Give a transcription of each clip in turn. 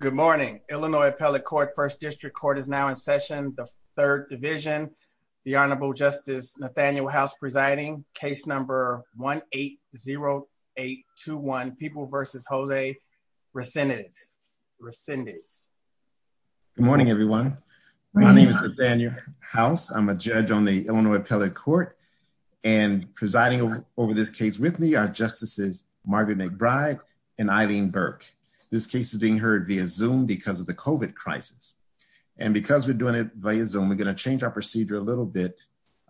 Good morning, Illinois Appellate Court, 1st District Court is now in session, the 3rd Division. The Honorable Justice Nathaniel House presiding, case number 1-8-0-8-2-1, People v. Jose Resendiz. Resendiz. Good morning, everyone. My name is Nathaniel House. I'm a judge on the Illinois Appellate Court and presiding over this case with me are Justices Margaret McBride and Eileen Burke. This case is being heard via Zoom because of the COVID crisis. And because we're doing it via Zoom, we're going to change our procedure a little bit.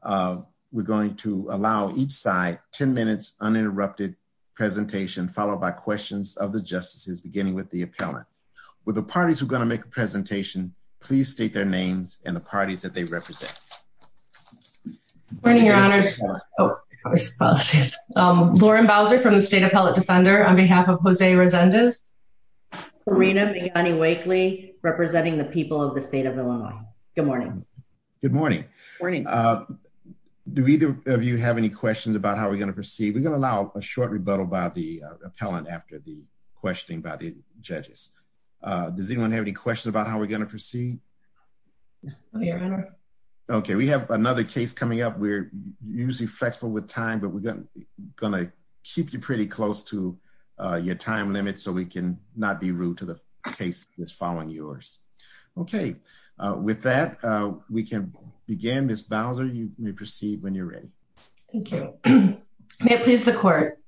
We're going to allow each side 10 minutes uninterrupted presentation followed by questions of the Justices beginning with the Appellant. Will the parties who are going to make a presentation please state their names and the parties that they represent. Good morning, Your Honors. Oh, I apologize. Lauren Bowser from the State Appellate Defender on behalf of Jose Resendiz. Karina McGonigal-Wakeley representing the people of the state of Illinois. Good morning. Good morning. Morning. Do either of you have any questions about how we're going to proceed? We're going to allow a short rebuttal by the Appellant after the questioning by the judges. Does anyone have any questions about how we're going to proceed? Okay, we have another case coming up. We're usually flexible with time, but we're going to keep you pretty close to your time limit so we can not be rude to the case that's following yours. Okay, with that we can begin. Ms. Bowser, you may proceed when you're ready. Thank you. May it please the Court.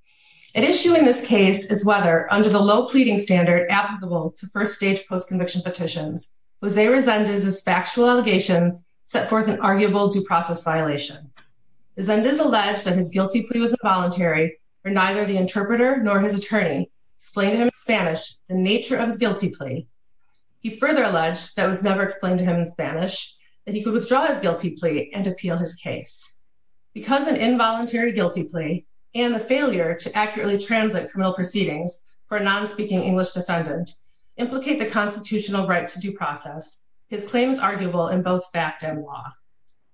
At issue in this case is whether, under the low pleading standard applicable to first-stage post-conviction petitions, Jose Resendiz's factual allegations set forth an arguable due process violation. Resendiz alleged that his guilty plea was involuntary where neither the interpreter nor his attorney explained to him in Spanish the nature of his guilty plea. He further alleged that it was never explained to him in Spanish, that he could withdraw his guilty plea and appeal his case. Because an involuntary guilty plea and the failure to accurately translate criminal proceedings for a non-speaking English defendant implicate the constitutional right to due process, his claim is arguable in both fact and law.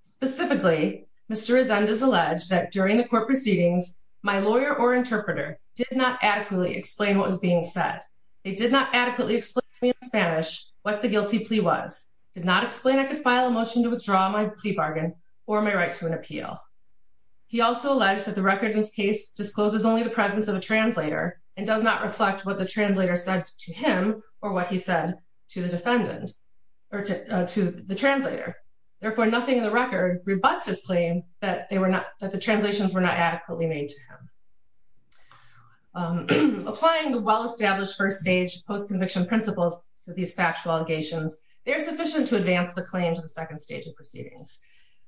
Specifically, Mr. Resendiz alleged that during the court proceedings, my lawyer or interpreter did not adequately explain what was being said. They did not adequately explain to me in Spanish what the guilty plea was, did not explain I could file a motion to withdraw my plea bargain or my right to an appeal. He also alleged that the record in this case discloses only the presence of a translator and does not reflect what the translator said to him or what he said to the defendant or to the translator. Therefore, nothing in the record rebuts his claim that the translations were not adequately made to him. Applying the well-established first stage post-conviction principles to these factual allegations, they are sufficient to advance the claim to the second stage of proceedings.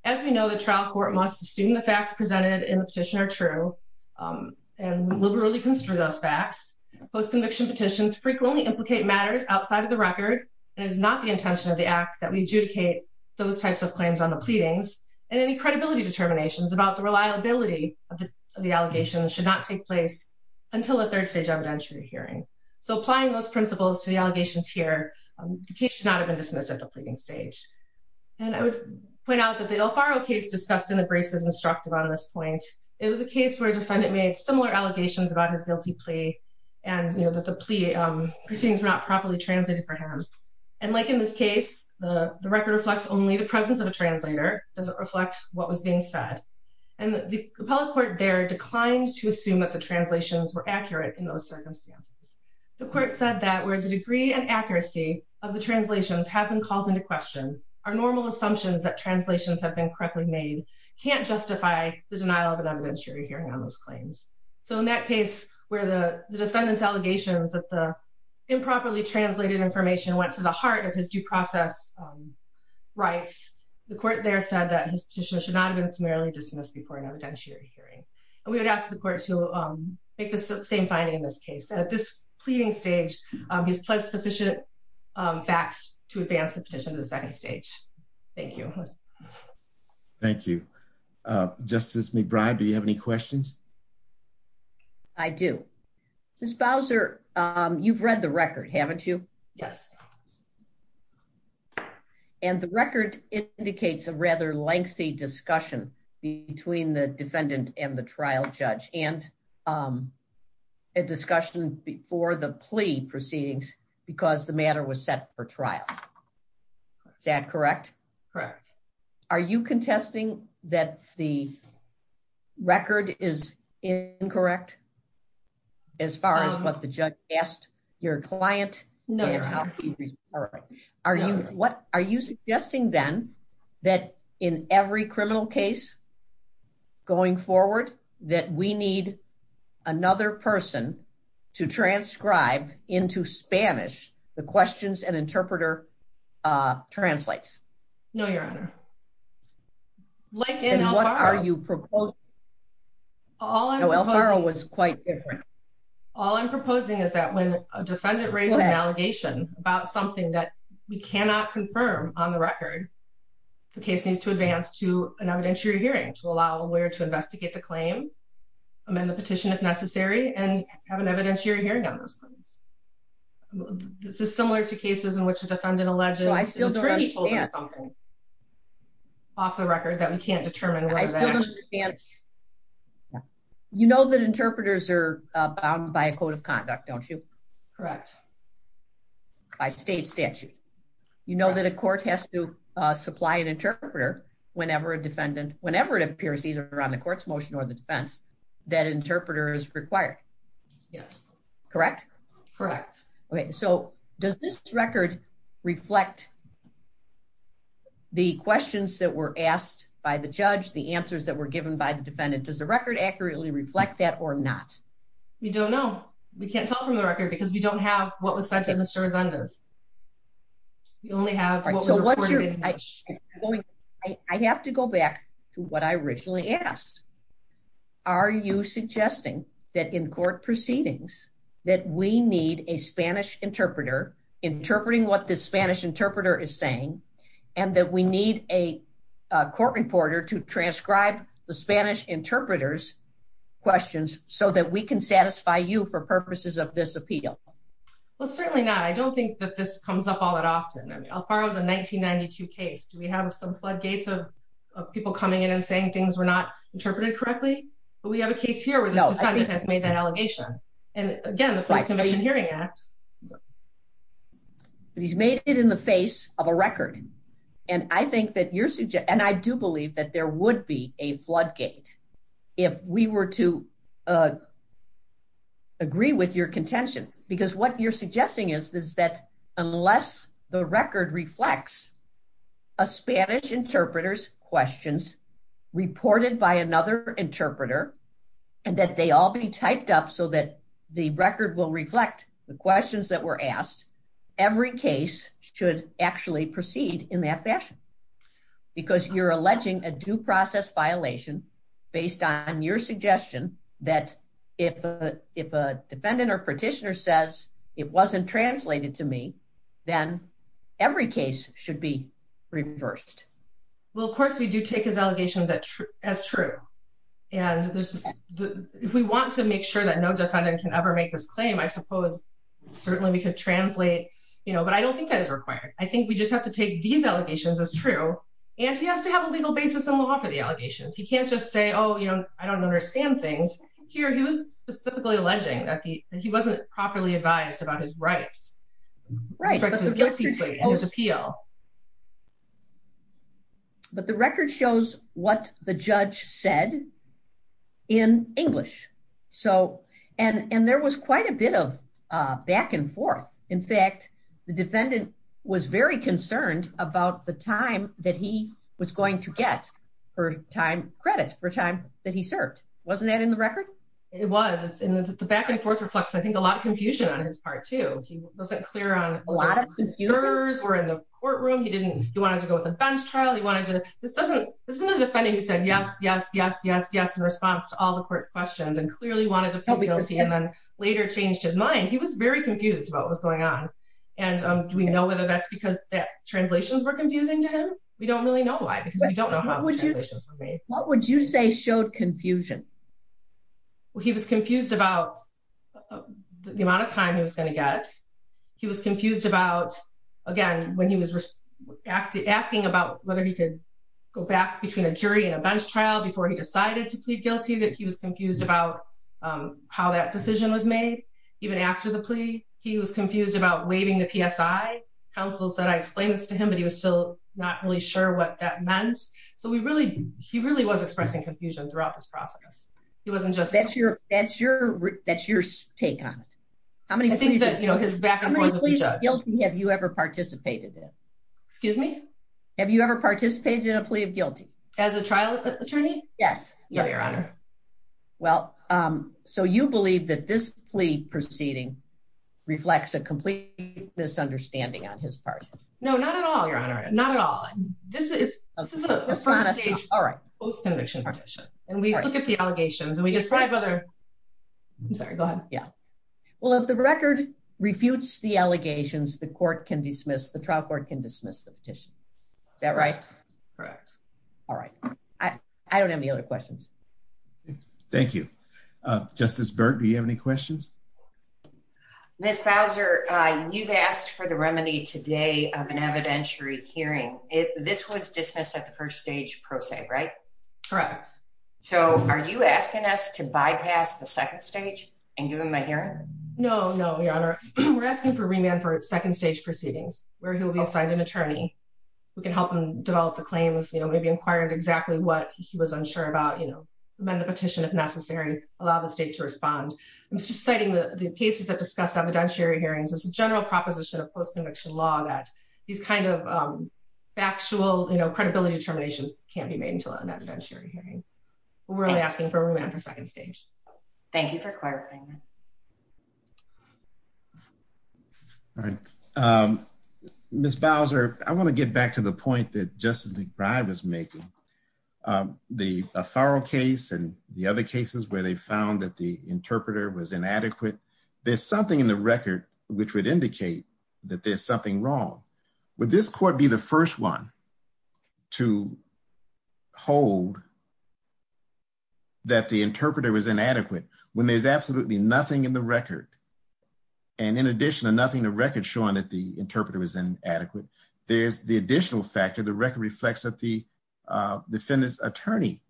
As we know, the trial court must assume the facts presented in the petition are true and post-conviction petitions frequently implicate matters outside of the record. It is not the intention of the act that we adjudicate those types of claims on the pleadings and any credibility determinations about the reliability of the allegations should not take place until a third stage evidentiary hearing. So applying those principles to the allegations here, the case should not have been dismissed at the pleading stage. And I would point out that the Alfaro case discussed in the briefs is instructive on this point. It was a case where a defendant made similar allegations about his guilty plea and that the plea proceedings were not properly translated for him. And like in this case, the record reflects only the presence of a translator, doesn't reflect what was being said. And the appellate court there declined to assume that the translations were accurate in those circumstances. The court said that where the degree and accuracy of the translations have been called into question, our normal assumptions that translations have been correctly made can't justify the denial of evidentiary hearing on those claims. So in that case where the defendant's allegations that the improperly translated information went to the heart of his due process rights, the court there said that his petition should not have been summarily dismissed before an evidentiary hearing. And we would ask the court to make the same finding in this case. At this pleading stage, he's pledged sufficient facts to advance the petition to the second stage. Thank you. Thank you. Justice McBride, do you have any questions? I do. Ms. Bowser, you've read the record, haven't you? Yes. And the record indicates a rather lengthy discussion between the defendant and the trial judge, and a discussion before the plea proceedings because the matter was set for trial. Is that correct? Correct. Are you contesting that the record is incorrect as far as what the judge asked your client? No. Are you suggesting then that in every criminal case going forward that we need another person to transcribe into Spanish the questions an interpreter translates? No, Your Honor. And what are you proposing? El Faro was quite different. All I'm proposing is that when a defendant raises an allegation about something that we cannot confirm on the record, the case needs to advance to an evidentiary hearing to allow a lawyer to have an evidentiary hearing on those claims. This is similar to cases in which a defendant alleges... So I still don't understand. ...off the record that we can't determine whether... I still don't understand. You know that interpreters are bound by a code of conduct, don't you? Correct. By state statute. You know that a court has to supply an interpreter whenever a defendant, whenever it appears either on the court's motion or the defense, that interpreter is required. Yes. Correct. Okay, so does this record reflect the questions that were asked by the judge, the answers that were given by the defendant? Does the record accurately reflect that or not? We don't know. We can't tell from the record because we don't have what was sent to Mr. Resendez. We only have what was reported. I have to go back to what I originally asked. Are you suggesting that in court proceedings that we need a Spanish interpreter interpreting what the Spanish interpreter is saying and that we need a court reporter to transcribe the Spanish interpreter's questions so that we can satisfy you for purposes of this appeal? Well, certainly not. I don't think that this comes up all that often. Alfaro is a 1992 case. Do we have some floodgates of people coming in and saying things were not interpreted correctly? But we have a case here where this defendant has made that allegation. And again, the Post-Convention Hearing Act. He's made it in the face of a record. And I do believe that there would be a floodgate if we were to agree with your contention. Because what you're suggesting is that unless the record reflects a Spanish interpreter's questions reported by another interpreter and that they all be typed up so that the record will reflect the questions that were asked, every case should actually proceed in that fashion. Because you're alleging a due process violation based on your suggestion that if a defendant or petitioner says it wasn't translated to me, then every case should be reversed. Well, of course, we do take his allegations as true. And if we want to make sure that no defendant can ever make this claim, I suppose certainly we could translate. But I don't think that is required. I think we just have to take these allegations as true. And he has to have a legal basis in law for the allegations. He can't just say, oh, I don't understand things. Here, he was specifically alleging that he wasn't properly advised about his rights. Right. His appeal. But the record shows what the judge said in English. And there was quite a bit of back and forth. In fact, the defendant was very concerned about the time that he was going to get for time credit, for time that he served. Wasn't that in the record? It was. It's in the back and forth reflects, I think, a lot of confusion on his part, too. He wasn't clear on a lot of jurors were in the courtroom. He didn't. He wanted to go with a bench trial. He wanted to. This doesn't. This is a defendant who said yes, yes, yes, yes, yes, in response to all the court's questions and clearly wanted to feel guilty and then later changed his mind. He was very confused about what was going on. And do we know whether that's because that translations were confusing to him? We don't really know why. Because we don't know how. What would you say showed confusion? Well, he was confused about the amount of time he was going to get. He was confused about, again, when he was asking about whether he could go back between a jury and a bench trial before he decided to plead guilty, that he was confused about how that decision was made. Even after the plea, he was confused about waiving the PSI. Counsel said, I explained this to him, but he was still not really sure what that meant. So we really he really was expressing confusion throughout this process. He wasn't just. That's your that's your that's your take on it. How many things that you know, his back. Have you ever participated in? Excuse me. Have you ever participated in a plea of guilty as a trial attorney? Yes. Yes, Your Honor. Well, so you believe that this plea proceeding reflects a complete misunderstanding on his part? No, not at all, Your Honor. Not at all. This is a post-conviction petition. And we look at the allegations and we decide whether. I'm sorry, go ahead. Yeah. Well, if the record refutes the allegations, the court can dismiss, the trial court can dismiss the petition. Is that right? Correct. All right. I don't have any other questions. Thank you. Justice Byrd, do you have any questions? Ms. Bowser, you've asked for the remedy today of an evidentiary hearing. If this was dismissed at the first stage pro se, right? Correct. So are you asking us to bypass the second stage and give him a hearing? No, no, Your Honor. We're asking for remand for second stage proceedings where he'll be assigned an attorney who can help him develop the claims, you know, maybe inquiring exactly what he was unsure about, you know, amend the petition if necessary, allow the state to respond. I was just citing the cases that discuss evidentiary hearings as a general proposition of post-conviction law that these kind of factual, you know, credibility determinations can't be made until an evidentiary hearing. We're only asking for remand for second stage. Thank you for clarifying. All right. Ms. Bowser, I want to get back to the point that Justice McBride was making. The Farrell case and the other cases where they found that the interpreter was inadequate. There's something in the record which would indicate that there's something wrong. Would this court be the first one to hold that the interpreter was inadequate when there's absolutely nothing in the record? And in addition to nothing in the record showing that the interpreter was inadequate, there's the additional factor, the record reflects that the defendant's attorney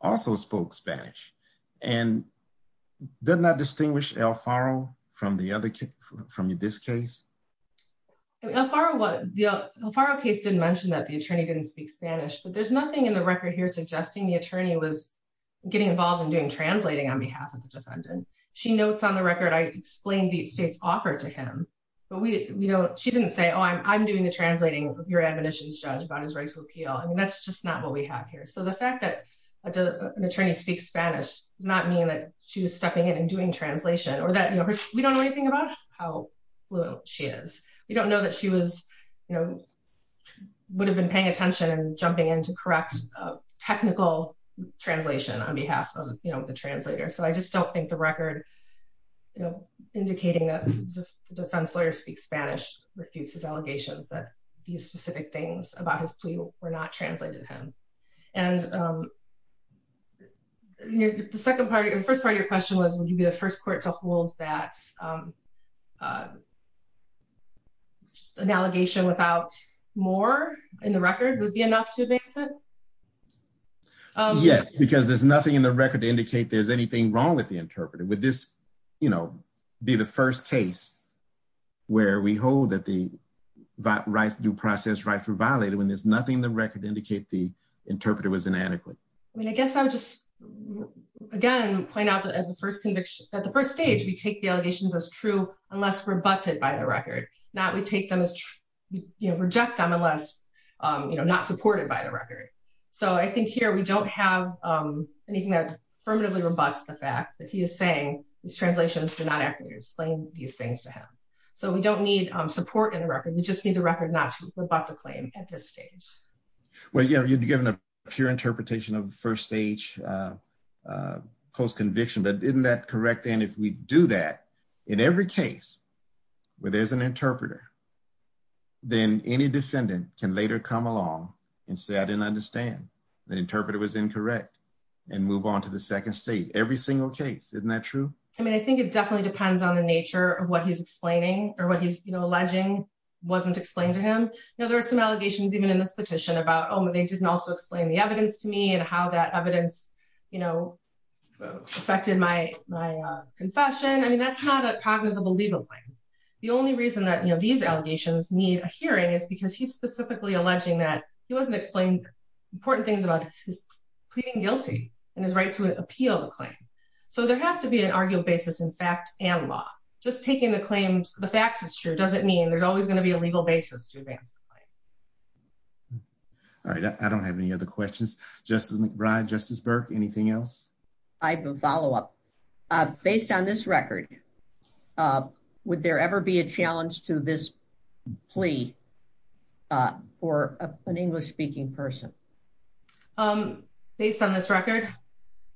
also spoke Spanish and did not distinguish Alfaro from the other case, from this case? Alfaro, the Alfaro case didn't mention that the attorney didn't speak Spanish, but there's nothing in the record here suggesting the attorney was getting involved in doing translating on behalf of the defendant. She notes on the record, I explained the state's offer to him, but we, you know, she didn't say, oh, I'm doing the translating of your admonitions, judge, about his right to appeal. I mean, that's just not what we have here. So the fact that an attorney speaks Spanish does not mean that she was stepping in and doing translation or that, you know, we don't know anything about how fluent she is. We don't know that she was, you know, would have been paying attention and jumping in to correct technical translation on behalf of, you know, the translator. So I just don't think the record, you know, indicating that the defense lawyer speaks Spanish, refutes his allegations that these specific things about his plea were not translated to him. And the second part, the first part of your question was, would you be the first court to hold that an allegation without more in the record would be enough to advance it? Yes, because there's nothing in the record to indicate there's anything wrong with the interpreter. Would this, you know, be the first case where we hold that the due process rights were violated when there's nothing in the record to indicate the interpreter was inadequate? I mean, I guess I would just, again, point out that at the first stage, we take the allegations as true unless rebutted by the record. Not we take them as, you know, reject them unless, you know, not supported by the record. So I think here we don't have anything that affirmatively rebutts the fact that he is saying these translations do not accurately explain these things to him. So we don't need support in the record. We just need the record not to rebut the claim at this stage. Well, you know, you'd be given a pure interpretation of the first stage post conviction, but isn't that correct? And if we do that in every case where there's an interpreter, then any defendant can later come along and say, I didn't understand the interpreter was incorrect and move on to the second stage. Every single case. Isn't that true? I mean, I think it definitely depends on the nature of what he's explaining or what he's alleging wasn't explained to him. Now, there are some allegations even in this petition about, oh, they didn't also explain the evidence to me and how that evidence, you know, affected my, my confession. I mean, that's not a cognizable legal claim. The only reason that, you know, these allegations need a hearing is because he's specifically alleging that he wasn't explained important things about his pleading guilty and his rights to appeal the claim. So there has to be an arguable basis in fact and law. Just taking the claims, the facts is true. Doesn't mean there's always going to be a legal basis to advance the claim. All right. I don't have any other questions. Justice McBride, Justice Burke, anything else? I have a follow-up. Based on this record, would there ever be a challenge to this plea for an English-speaking person? Based on this record?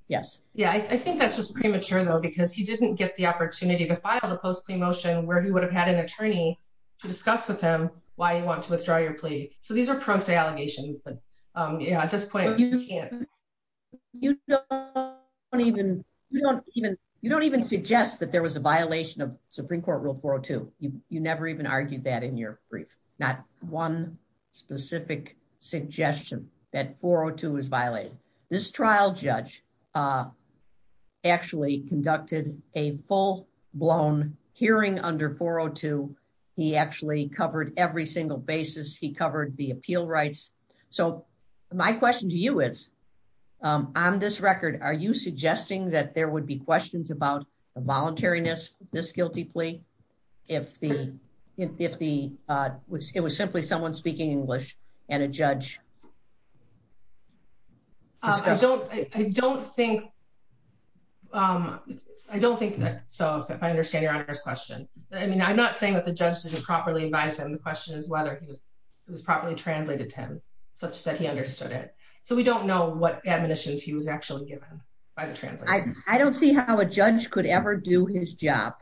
Yes. Yeah. I think that's just premature though, because he didn't get the opportunity to file the post-plea motion where he would have had an attorney to discuss with him why you want to withdraw your plea. So these are pro se allegations, but at this point, you can't. You don't even suggest that there was a violation of Supreme Court Rule 402. You never even argued that in your brief. Not one specific suggestion that 402 was violated. This trial judge actually conducted a full-blown hearing under 402. He actually covered every single basis. He covered the appeal rights. So my question to you is, on this record, are you suggesting that there would be questions about the voluntariness of this guilty plea if it was simply someone speaking English and a judge discussing? I don't think so, if I understand Your Honor's question. I mean, I'm not saying that the judge didn't properly advise him. The question is whether it was properly translated to him, such that he understood it. So we don't know what admonitions he was actually given by the translator. I don't see how a judge could ever do his job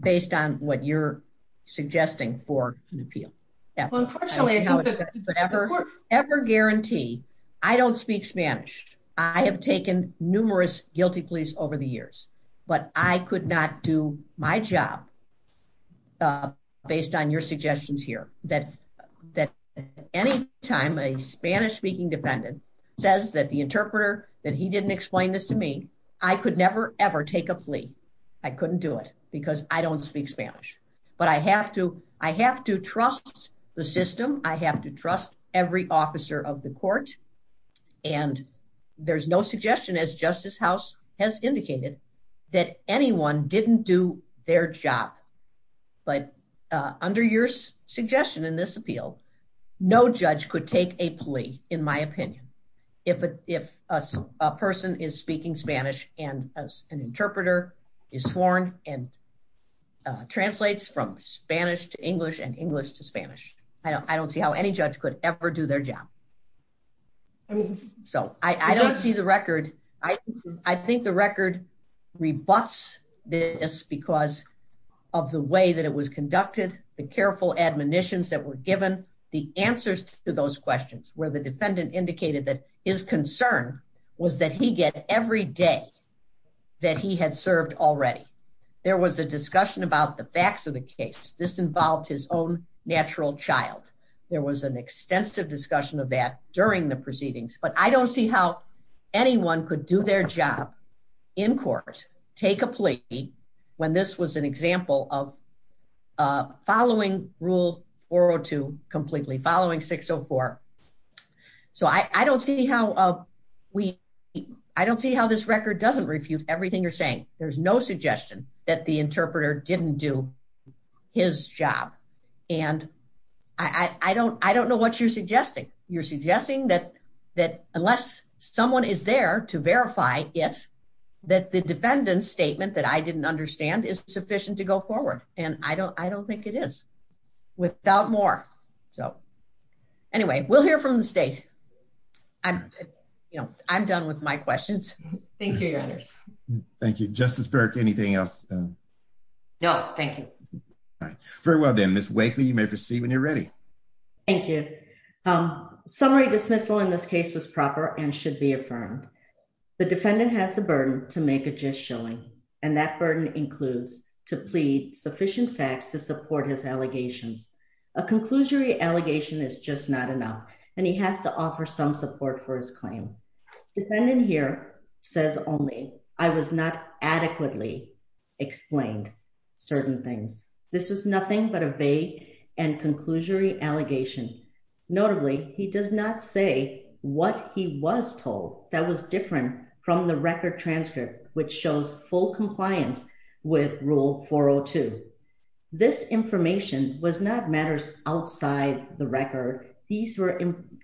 based on what you're suggesting for an appeal. Unfortunately, I think that the court- I don't ever guarantee. I don't speak Spanish. I have taken numerous guilty pleas over the years, but I could not do my job based on your suggestions here, that any time a Spanish-speaking defendant says that the interpreter, that he didn't explain this to me, I could never, ever take a plea. I couldn't do it because I don't speak Spanish. But I have to trust the system. I have to trust every officer of the court. And there's no suggestion, as Justice House has indicated, that anyone didn't do their job. But under your suggestion in this appeal, no judge could take a plea, in my opinion, if a person is speaking Spanish and an interpreter is sworn and translates from Spanish to English and English to Spanish. I don't see how any judge could ever do their job. So I don't see the record. I think the record rebuts this because of the way that it was conducted, the careful admonitions that were given, the answers to those questions, where the defendant indicated that his concern was that he get every day that he had served already. There was a discussion about the facts of the case. This involved his own natural child. There was an extensive discussion of that during the proceedings. But I don't see how anyone could do their job in court, take a plea, when this was an example of following Rule 402 completely, following 604. So I don't see how this record doesn't refute everything you're saying. There's no suggestion that the interpreter didn't do his job. And I don't know what you're suggesting. You're suggesting that unless someone is there to verify it, that the defendant's statement that I didn't understand is sufficient to go forward. And I don't think it is without more. So, anyway, we'll hear from the state. I'm done with my questions. Thank you, Your Honors. Thank you. Justice Burke, anything else? No, thank you. All right. Very well, then. Ms. Wakely, you may proceed when you're ready. Thank you. Summary dismissal in this case was proper and should be affirmed. The defendant has the burden to make a gist showing, and that burden includes to plead sufficient facts to support his allegations. A conclusory allegation is just not enough, and he has to offer some support for his claim. Defendant here says only, I was not adequately explained certain things. This was nothing but a vague and conclusory allegation. Notably, he does not say what he was told that was different from the record transcript, which shows full compliance with Rule 402. This information was not matters outside the record. These were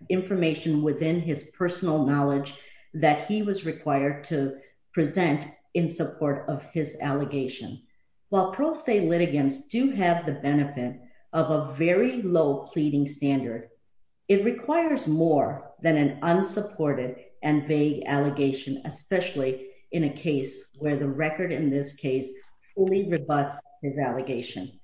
information within his personal knowledge that he was required to present in support of his allegation. While pro se litigants do have the benefit of a very low pleading standard, it requires more than an unsupported and vague allegation, especially in a case where the record in this case fully rebuts his allegation.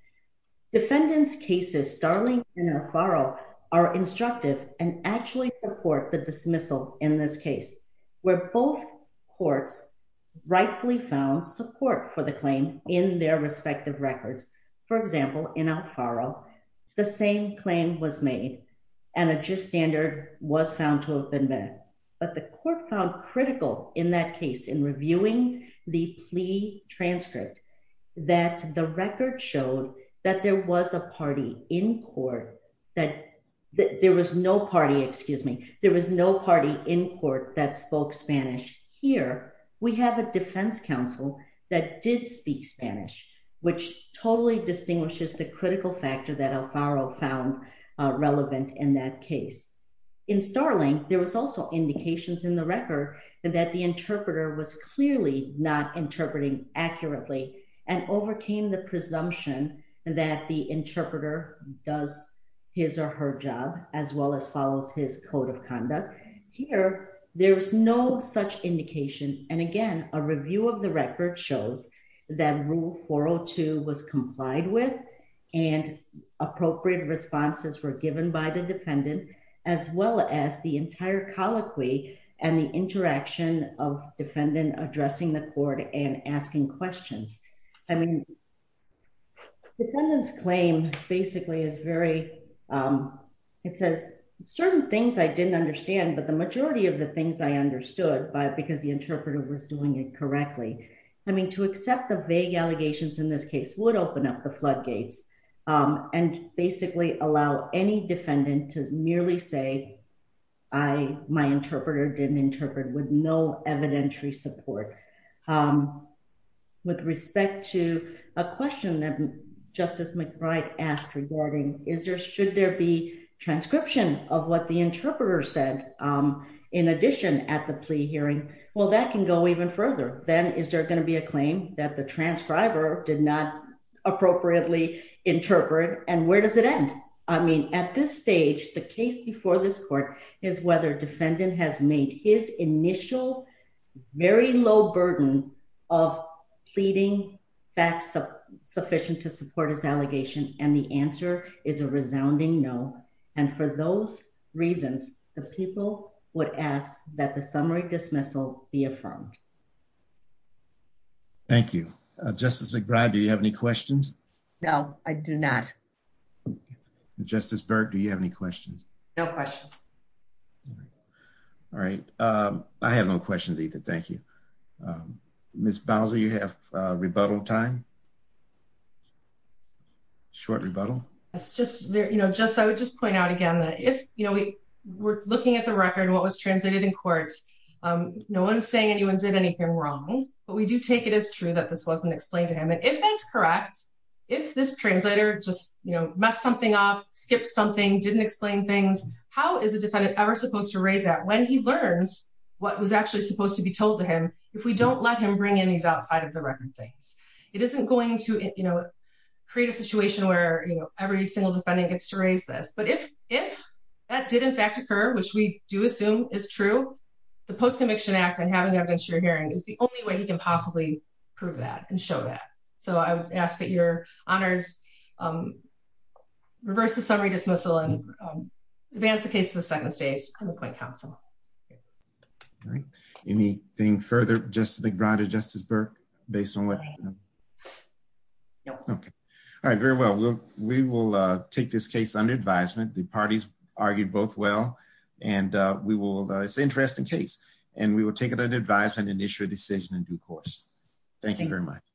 Defendants' cases, Starling and Alfaro, are instructive and actually support the dismissal in this case, where both courts rightfully found support for the claim in their respective records. For example, in Alfaro, the same claim was made, and a gist standard was found to have been met. But the court found critical in that case in reviewing the plea transcript that the record showed that there was no party in court that spoke Spanish. Here, we have a defense counsel that did speak Spanish, which totally distinguishes the critical factor that Alfaro found relevant in that case. In Starling, there was also indications in the record that the interpreter was clearly not interpreting accurately and overcame the presumption that the interpreter does his or her job, as well as follows his code of conduct. Here, there was no such indication. And again, a review of the record shows that Rule 402 was complied with and appropriate responses were given by the defendant, as well as the entire colloquy and the interaction of defendant addressing the court and asking questions. I mean, the defendant's claim basically is very, it says certain things I didn't understand, but the majority of the things I understood because the interpreter was doing it correctly. I mean, to accept the vague allegations in this case would open up the floodgates and basically allow any defendant to merely say, I, my interpreter didn't interpret with no evidentiary support. With respect to a question that Justice McBride asked regarding is there, should there be transcription of what the interpreter said in addition at the plea hearing? Well, that can go even further. Then is there going to be a claim that the transcriber did not appropriately interpret? And where does it end? I mean, at this stage, the case before this court is whether defendant has made his initial very low burden of pleading back sufficient to support his allegation. And the answer is a resounding no. And for those reasons, the people would ask that the summary dismissal be affirmed. Thank you, Justice McBride. Do you have any questions? No, I do not. Justice Berg, do you have any questions? No questions. All right. I have no questions either. Thank you. Miss Bowser, you have rebuttal time. Short rebuttal. I would just point out again that if we're looking at the record, what was translated in court, no one is saying anyone did anything wrong. But we do take it as true that this wasn't explained to him. And if that's correct, if this translator just messed something up, skipped something, didn't explain things, how is a defendant ever supposed to raise that when he learns what was actually supposed to be told to him if we don't let him bring in these outside-of-the-record things? It isn't going to create a situation where every single defendant gets to raise this. But if that did, in fact, occur, which we do assume is true, the Post-Conviction Act and having the evidence you're hearing is the only way he can possibly prove that and show that. So I would ask that your honors reverse the summary dismissal and advance the case to the second stage and appoint counsel. All right. Anything further, Justice McBride or Justice Burke, based on what happened? No. Okay. All right. Very well. We will take this case under advisement. The parties argued both well. And it's an interesting case. And we will take it under advisement and issue a decision in due course. Thank you very much.